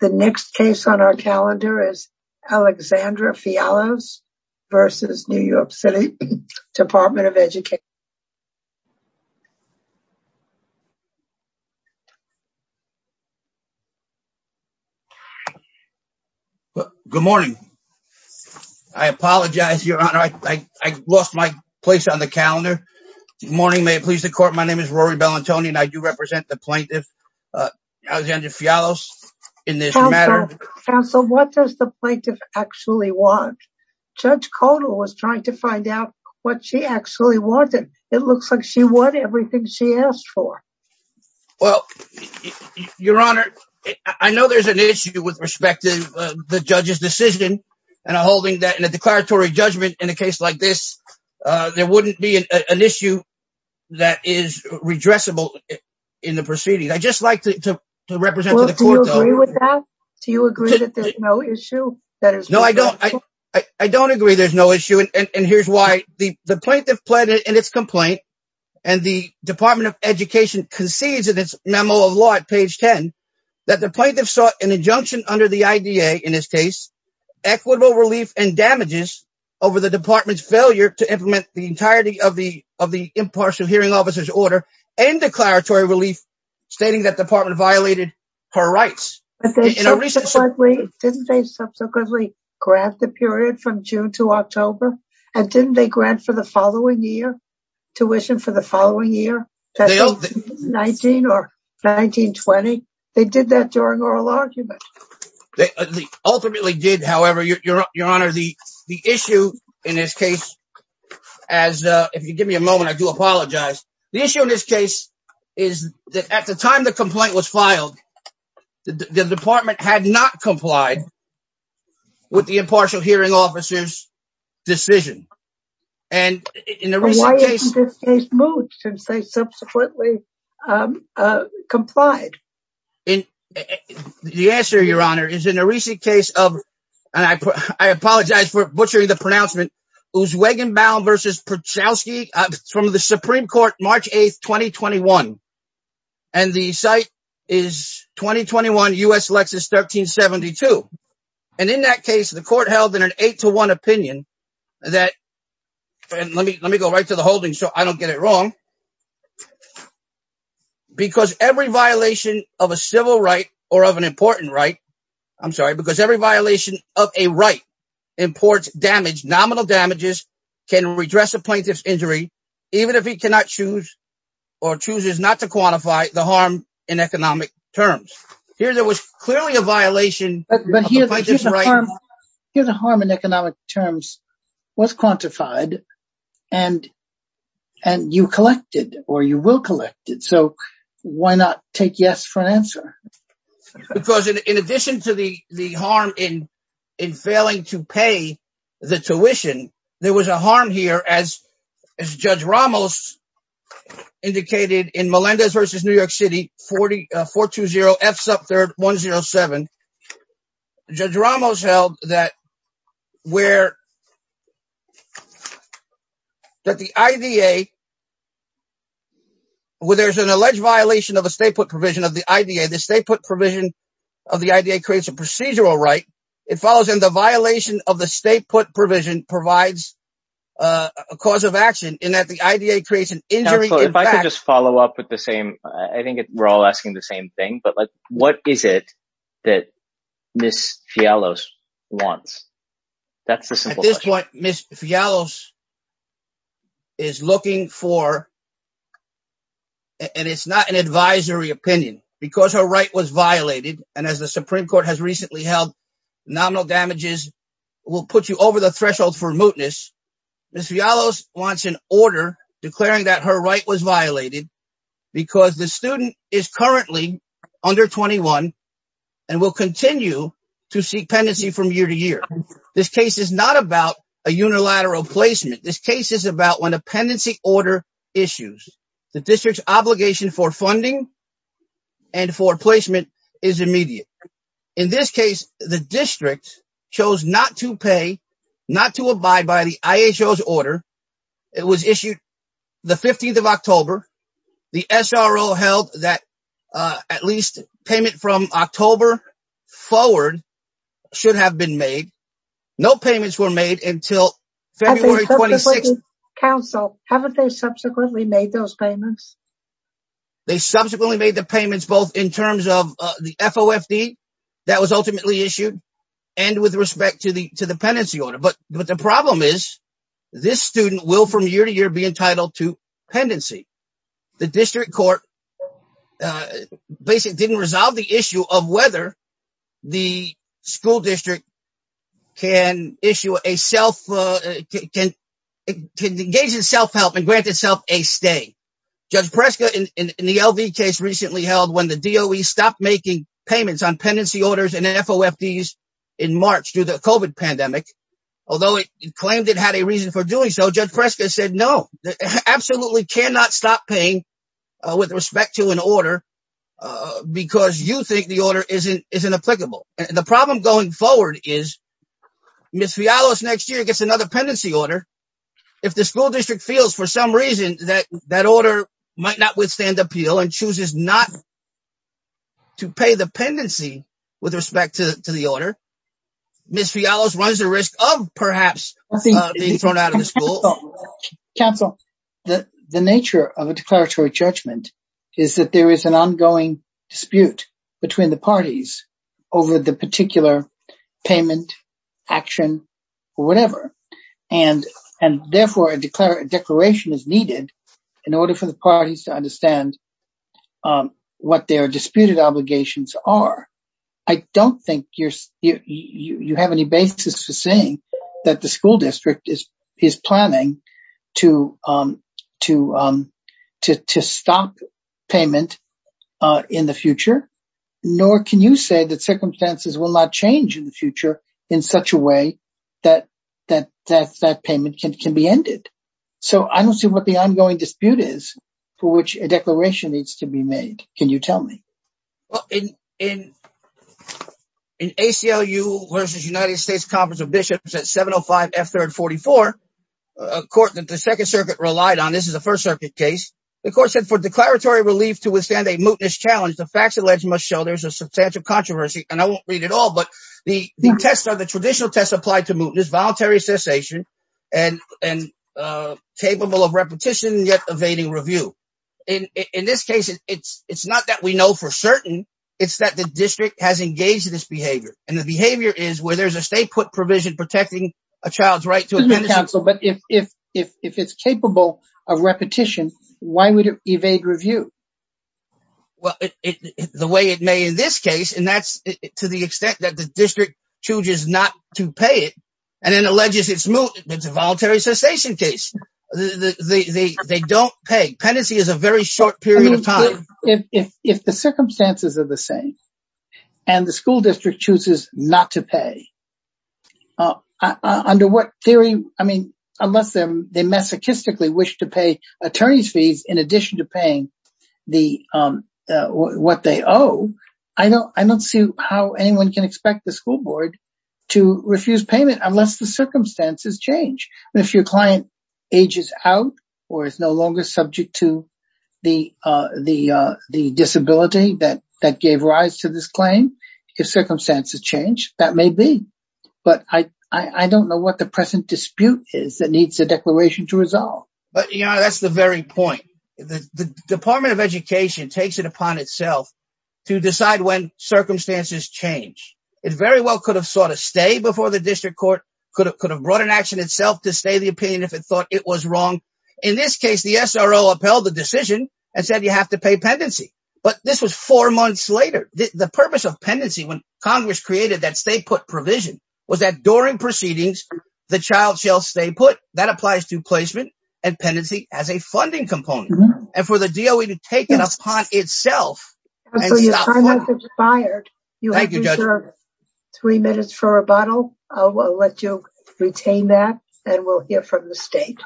The next case on our calendar is Alexandra Fialos versus New York City Department of Education. Good morning. I apologize, your honor, I lost my place on the calendar. Good morning, may it please the court, my name is Rory Bellantoni and I do represent the plaintiff Alexandra Fialos in this matter. Counsel, what does the plaintiff actually want? Judge Kotal was trying to find out what she actually wanted. It looks like she won everything she asked for. Well, your honor, I know there's an issue with respect to the judge's decision and holding that in a declaratory judgment in a case like this, there wouldn't be an issue that is redressable in the proceeding. I just like to represent to the court. Do you agree with that? Do you agree that there's no issue? No, I don't. I don't agree there's no issue and here's why. The plaintiff pled in its complaint and the Department of Education concedes in its memo of law at page 10 that the plaintiff sought an injunction under the IDA in this case, equitable relief and damages over the department's failure to implement the entirety of the impartial hearing officer's order and declaratory relief stating that the department violated her rights. Didn't they subsequently grant the period from June to October and didn't they grant for the following year tuition for the following year, 19 or 1920? They did that during oral argument. They ultimately did, however, your honor, the issue in this case, if you give me a moment, I do apologize. The issue in this case is that at the time the complaint was filed, the department had not complied with the impartial hearing officer's decision. And in the recent case, they subsequently complied. The answer, your honor, is in a recent case of, and I apologize for butchering the pronouncement, Uzwegenbaum versus Przewski from the Supreme Court, March 8th, 2021. And the site is 2021 U.S. Lexus 1372. And in that case, the court held in an eight to one opinion that, and let me go right to the holding so I don't get it wrong, because every violation of a civil right or of an important right, I'm sorry, because every violation of a right imports damage, nominal damages, can redress a plaintiff's injury, even if he cannot choose or chooses not to quantify the harm in economic terms. Here, there was clearly a violation. But here's the harm in economic terms was quantified and you collected or you will collect it. So why not take yes for an answer? Because in addition to the harm in failing to pay the tuition, there was a harm here as Judge Ramos indicated in Melendez versus New York City 420F sub 3rd 107. Judge Ramos held that where that the IDA, where there's an alleged violation of a state put provision of the provision of the IDA creates a procedural right, it follows in the violation of the state put provision provides a cause of action in that the IDA creates an injury. If I could just follow up with the same, I think we're all asking the same thing, but like, what is it that Miss Fialos wants? That's the simple question. At this point, Miss Fialos is looking for, and it's not an advisory opinion, because her right was violated. And as the Supreme Court has recently held, nominal damages will put you over the threshold for mootness. Miss Fialos wants an order declaring that her right was violated, because the student is currently under 21 and will continue to seek pendency from year to year. This case is not about a unilateral placement. This case is about when a pendency order issues, the district's obligation for funding and for placement is immediate. In this case, the district chose not to pay, not to abide by the IHO's order. It was issued the 15th of October. The SRO held that at least payment from October forward should have been made. No payments were made until February 26th. Counsel, haven't they subsequently made those payments? They subsequently made the payments, both in terms of the FOFD that was ultimately issued and with respect to the pendency order. But the problem is, this student will from year to year be entitled to pendency. The district court basically didn't resolve the issue of whether the school district can issue a self, can engage in self-help and grant itself a stay. Judge Preska in the LV case recently held when the DOE stopped making payments on pendency orders and FOFDs in March due to the COVID pandemic, although it claimed it had a reason for doing so, Judge Preska said no, absolutely cannot stop paying with respect to an order because you think the order isn't applicable. The problem going forward is Ms. Fialos next year gets another pendency order. If the school district feels for some reason that that order might not withstand appeal and chooses not to pay the pendency with respect to the order, Ms. Fialos what is the risk of perhaps being thrown out of the school? Counsel, the nature of a declaratory judgment is that there is an ongoing dispute between the parties over the particular payment action or whatever. And therefore a declaration is needed in order for the parties to understand what their disputed obligations are. I don't think you have any basis for saying that the school district is planning to stop payment in the future, nor can you say that circumstances will not change in the future in such a way that that payment can be ended. So I don't see what the ongoing dispute is for which a declaration needs to be made. Can you tell me? In ACLU versus United States Conference of Bishops at 705 F-344, a court that the second circuit relied on, this is a first circuit case, the court said for declaratory relief to withstand a mootness challenge, the facts alleged must show there's a substantial controversy. And I won't read it all, but the tests are the traditional tests applied to mootness, voluntary cessation, and capable of repetition yet evading review. In this case, it's not that we know for certain, it's that the district has engaged in this behavior. And the behavior is where there's a state put provision protecting a child's right to a penalty. But if it's capable of repetition, why would it evade review? Well, the way it may in this case, and that's to the extent that the district chooses not to pay it and then alleges it's moot, it's a voluntary cessation case. They don't pay. Penalty is a very short period of time. If the circumstances are the same, and the school district chooses not to pay, under what theory, I mean, unless they masochistically wish to pay attorney's fees in addition to paying what they owe, I don't see how anyone can expect the school board to refuse payment unless the circumstances change. If your client ages out, or is no longer subject to the disability that gave rise to this claim, if circumstances change, that may be. But I don't know what the present dispute is that needs a declaration to resolve. But that's the very point. The It very well could have sought a stay before the district court, could have brought an action itself to stay the opinion if it thought it was wrong. In this case, the SRO upheld the decision and said you have to pay pendency. But this was four months later. The purpose of pendency, when Congress created that state put provision, was that during proceedings, the child shall stay put. That applies to placement and pendency as a funding component. And for the DOE to take it upon itself. You have three minutes for a rebuttal. I'll let you retain that and we'll hear from the state.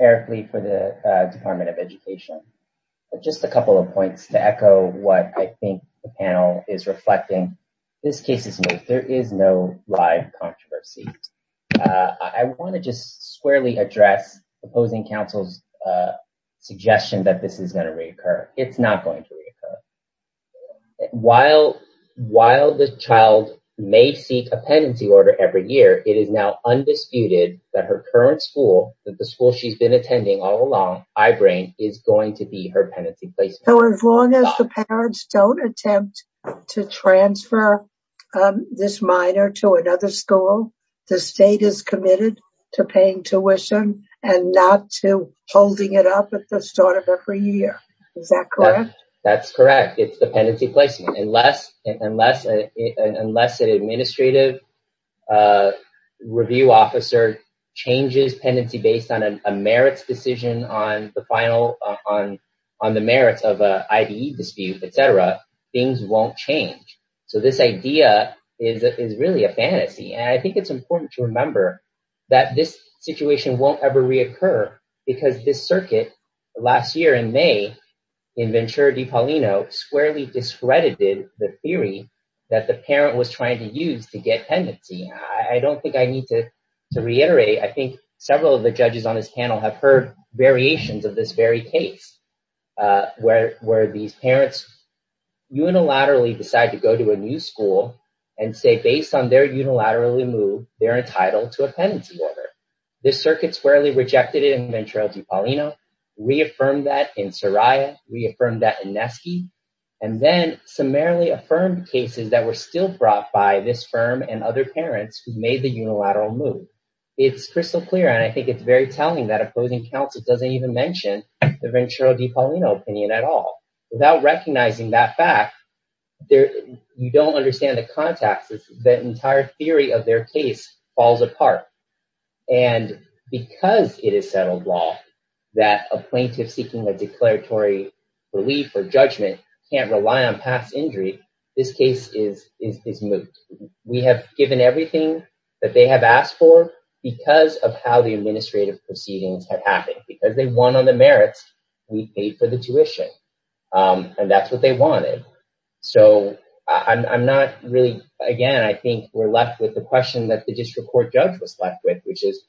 Eric Lee for the Department of Education. Just a couple of points to echo what I think the panel is reflecting. This case is no, there is no live controversy. I want to just squarely opposing counsel's suggestion that this is going to reoccur. It's not going to reoccur. While the child may seek a pendency order every year, it is now undisputed that her current school, that the school she's been attending all along, I-Brain, is going to be her pendency placement. So as long as the parents don't attempt to transfer this minor to another school, the state is committed to paying tuition and not to holding it up at the start of every year. Is that correct? That's correct. It's the pendency placement. Unless an administrative review officer changes pendency based on a merits decision on the final, on the merits of an I-B dispute, things won't change. So this idea is really a fantasy. And I think it's important to remember that this situation won't ever reoccur because this circuit last year in May in Ventura Di Paulino squarely discredited the theory that the parent was trying to use to get pendency. I don't think I need to reiterate. I think several of the judges on this panel have heard variations of this case where these parents unilaterally decide to go to a new school and say, based on their unilaterally move, they're entitled to a pendency order. This circuit squarely rejected it in Ventura Di Paulino, reaffirmed that in Soraya, reaffirmed that in Nesky, and then summarily affirmed cases that were still brought by this firm and other parents who made the unilateral move. It's crystal clear. And I think it's very telling that opposing counsel doesn't even mention the Ventura Di Paulino opinion at all. Without recognizing that fact, you don't understand the context. The entire theory of their case falls apart. And because it is settled law that a plaintiff seeking a declaratory relief or judgment can't rely on past injury, this case is moot. We have given everything that they have asked for because of how the administrative proceedings have happened. Because they won on the merits, we paid for the tuition. And that's what they wanted. So I'm not really, again, I think we're left with the question that the district court judge was left with, which is,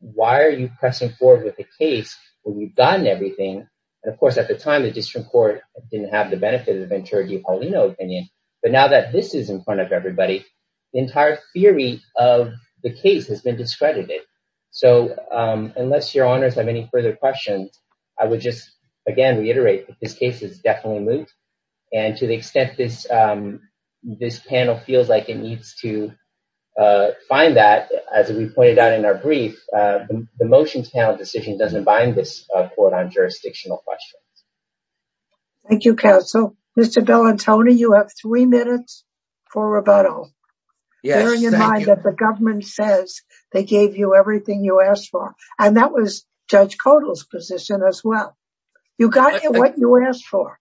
why are you pressing forward with the case when you've gotten everything? And of course, at the time, the district court didn't have the benefit of Ventura Di Paulino opinion. But now that this is in front of everybody, the entire theory of the case has been discredited. So unless your honors have any further questions, I would just, again, reiterate that this case is definitely moot. And to the extent this panel feels like it needs to find that, as we pointed out in our brief, the motions panel decision doesn't bind this court on jurisdictional questions. Thank you, counsel. Mr. Bellantoni, you have three minutes for rebuttal. Yes. Bearing in mind that the government says they gave you everything you asked for, and that was Judge Codall's position as well. You got what you asked for.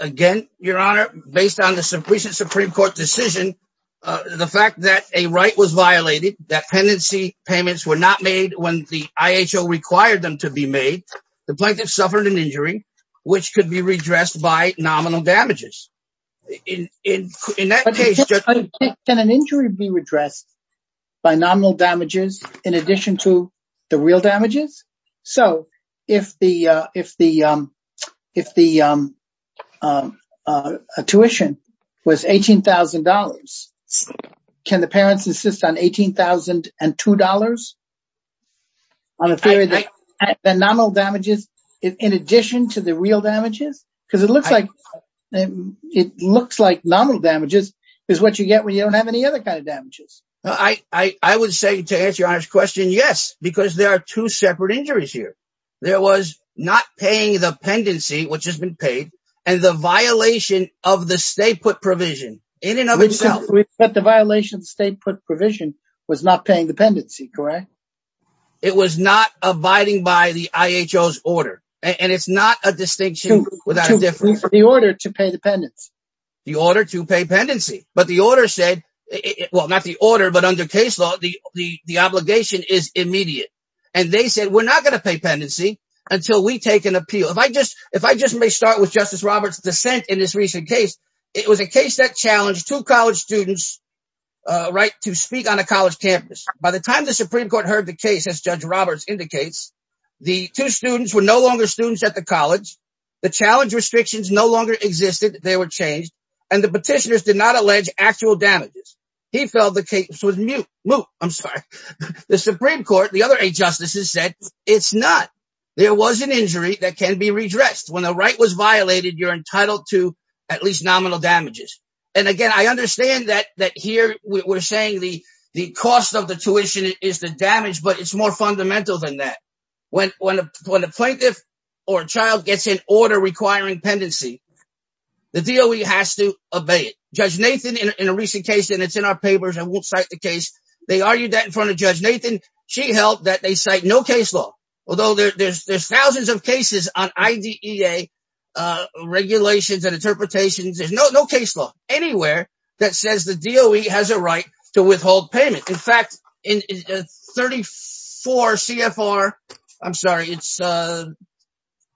Again, your honor, based on the recent Supreme Court decision, the fact that a right was violated, that penancy payments were not made when the IHO required them to be made, the plaintiff suffered an injury which could be redressed by nominal damages. In that case... Can an injury be redressed by nominal damages in addition to the real damages? So if the tuition was $18,000, can the parents insist on $18,002 on a theory that nominal damages in addition to the real damages? Because it looks like nominal damages is what you get when you don't have any other kind of damages. I would say, to answer your honor's question, yes, because there are two separate injuries here. There was not paying the pendency, which has been paid, and the violation of the stay put provision in and of itself. The violation of the stay put provision was not paying the pendency, correct? It was not abiding by the IHO's order. And it's not a distinction without a difference. The order to pay the pendency. The order to pay pendency. But the order said, well, not the order, but under case law, the obligation is immediate. And they said, we're not going to pay pendency until we take an appeal. If I just may start with Justice Roberts' dissent in this recent case, it was a case that challenged two college students to speak on a college campus. By the time the Supreme Court heard the case, as Judge Roberts indicates, the two students were no longer students at the college. The challenge restrictions no longer existed. They were changed. And the petitioners did not allege actual damages. He felt the case was moot. I'm sorry. The Supreme Court, the other eight justices said, it's not. There was an injury that can be redressed. When the right was violated, you're entitled to at least nominal damages. And again, I understand that here we're saying the cost of the tuition is the damage, but it's more fundamental than that. When a plaintiff or a child gets an order requiring pendency, the DOE has to obey it. Judge Nathan, in a recent case, and it's in our papers, I won't cite the case. They argued that in front of Judge Nathan. She held that they cite no case law, although there's thousands of cases on IDEA regulations and interpretations. There's no case law anywhere that says the DOE has a right to withhold payment. In fact, in 34 CFR, I'm sorry, it's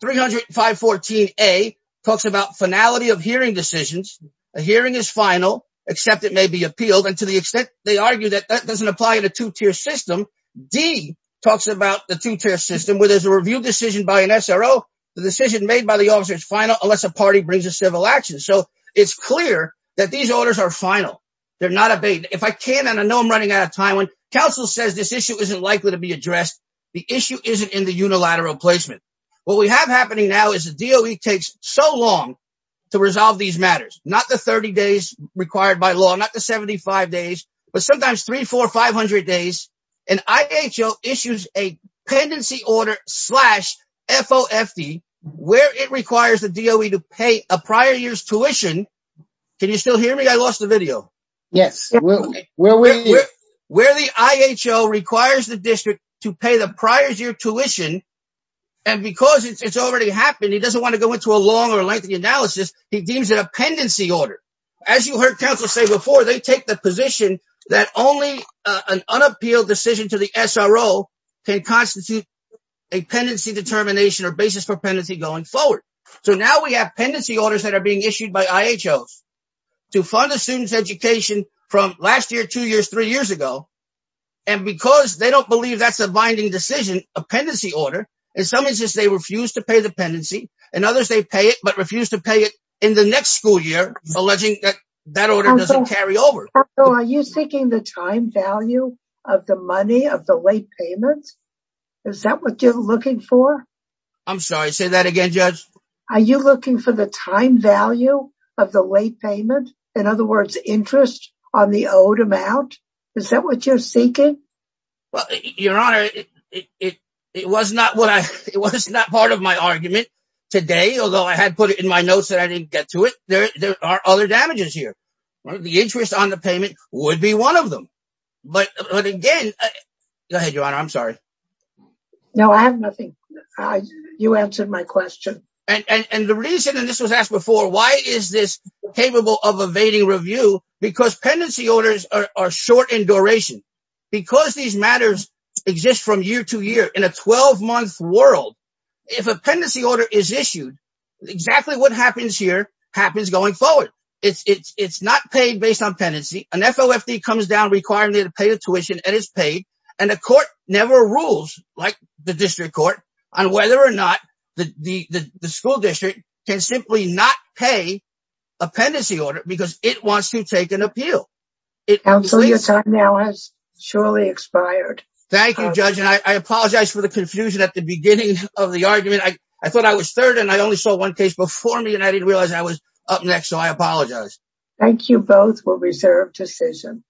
30514A talks about finality of hearing decisions. A hearing is final, except it may be appealed. And to the extent they argue that that doesn't apply to two-tier system, D talks about the two-tier system where there's a review decision by an SRO. The decision made by the officer is final unless a party brings a civil action. So it's clear that these orders are final. They're not obeyed. If I can, and I know I'm running out of time, when counsel says this issue isn't likely to be addressed, the issue isn't in the unilateral placement. What we have happening now is the DOE takes so long to resolve these matters, not the 30 days required by law, not the 75 days, but sometimes three, four, 500 days. And IHO issues a pendency order slash FOFD where it requires the pay a prior year's tuition. Can you still hear me? I lost the video. Yes. Where the IHO requires the district to pay the prior year's tuition. And because it's already happened, he doesn't want to go into a long or lengthy analysis. He deems it a pendency order. As you heard counsel say before, they take the position that only an unappealed decision to the SRO can constitute a pendency determination or basis for pendency going forward. So now we have pendency orders that are being issued by IHOs to fund a student's education from last year, two years, three years ago. And because they don't believe that's a binding decision, a pendency order, in some instances they refuse to pay the pendency and others they pay it, but refuse to pay it in the next school year, alleging that that order doesn't carry over. So are you seeking the time value of the money of the late payment? Is that what you're looking for? I'm sorry, say that again, Judge. Are you looking for the time value of the late payment? In other words, interest on the owed amount? Is that what you're seeking? Well, Your Honor, it was not part of my argument today, although I had put it in my notes that I didn't get to it. There are other damages here. The interest on the payment would be one of them. But again, go ahead, Your Honor, I'm sorry. No, I have nothing. You answered my question. And the reason, and this was asked before, why is this capable of evading review? Because pendency orders are short in duration. Because these matters exist from year to year in a 12-month world, if a pendency order is issued, exactly what happens here happens going forward. It's not paid based on pendency, an FOFD comes down requiring you to pay the tuition and it's paid. And the court never rules, like the district court, on whether or not the school district can simply not pay a pendency order because it wants to take an appeal. Counsel, your time now has surely expired. Thank you, Judge. And I apologize for the confusion at the beginning of the argument. I thought I was third and I only saw one case before me and I didn't realize I was up next. So I apologize. Thank you both for reserved decision.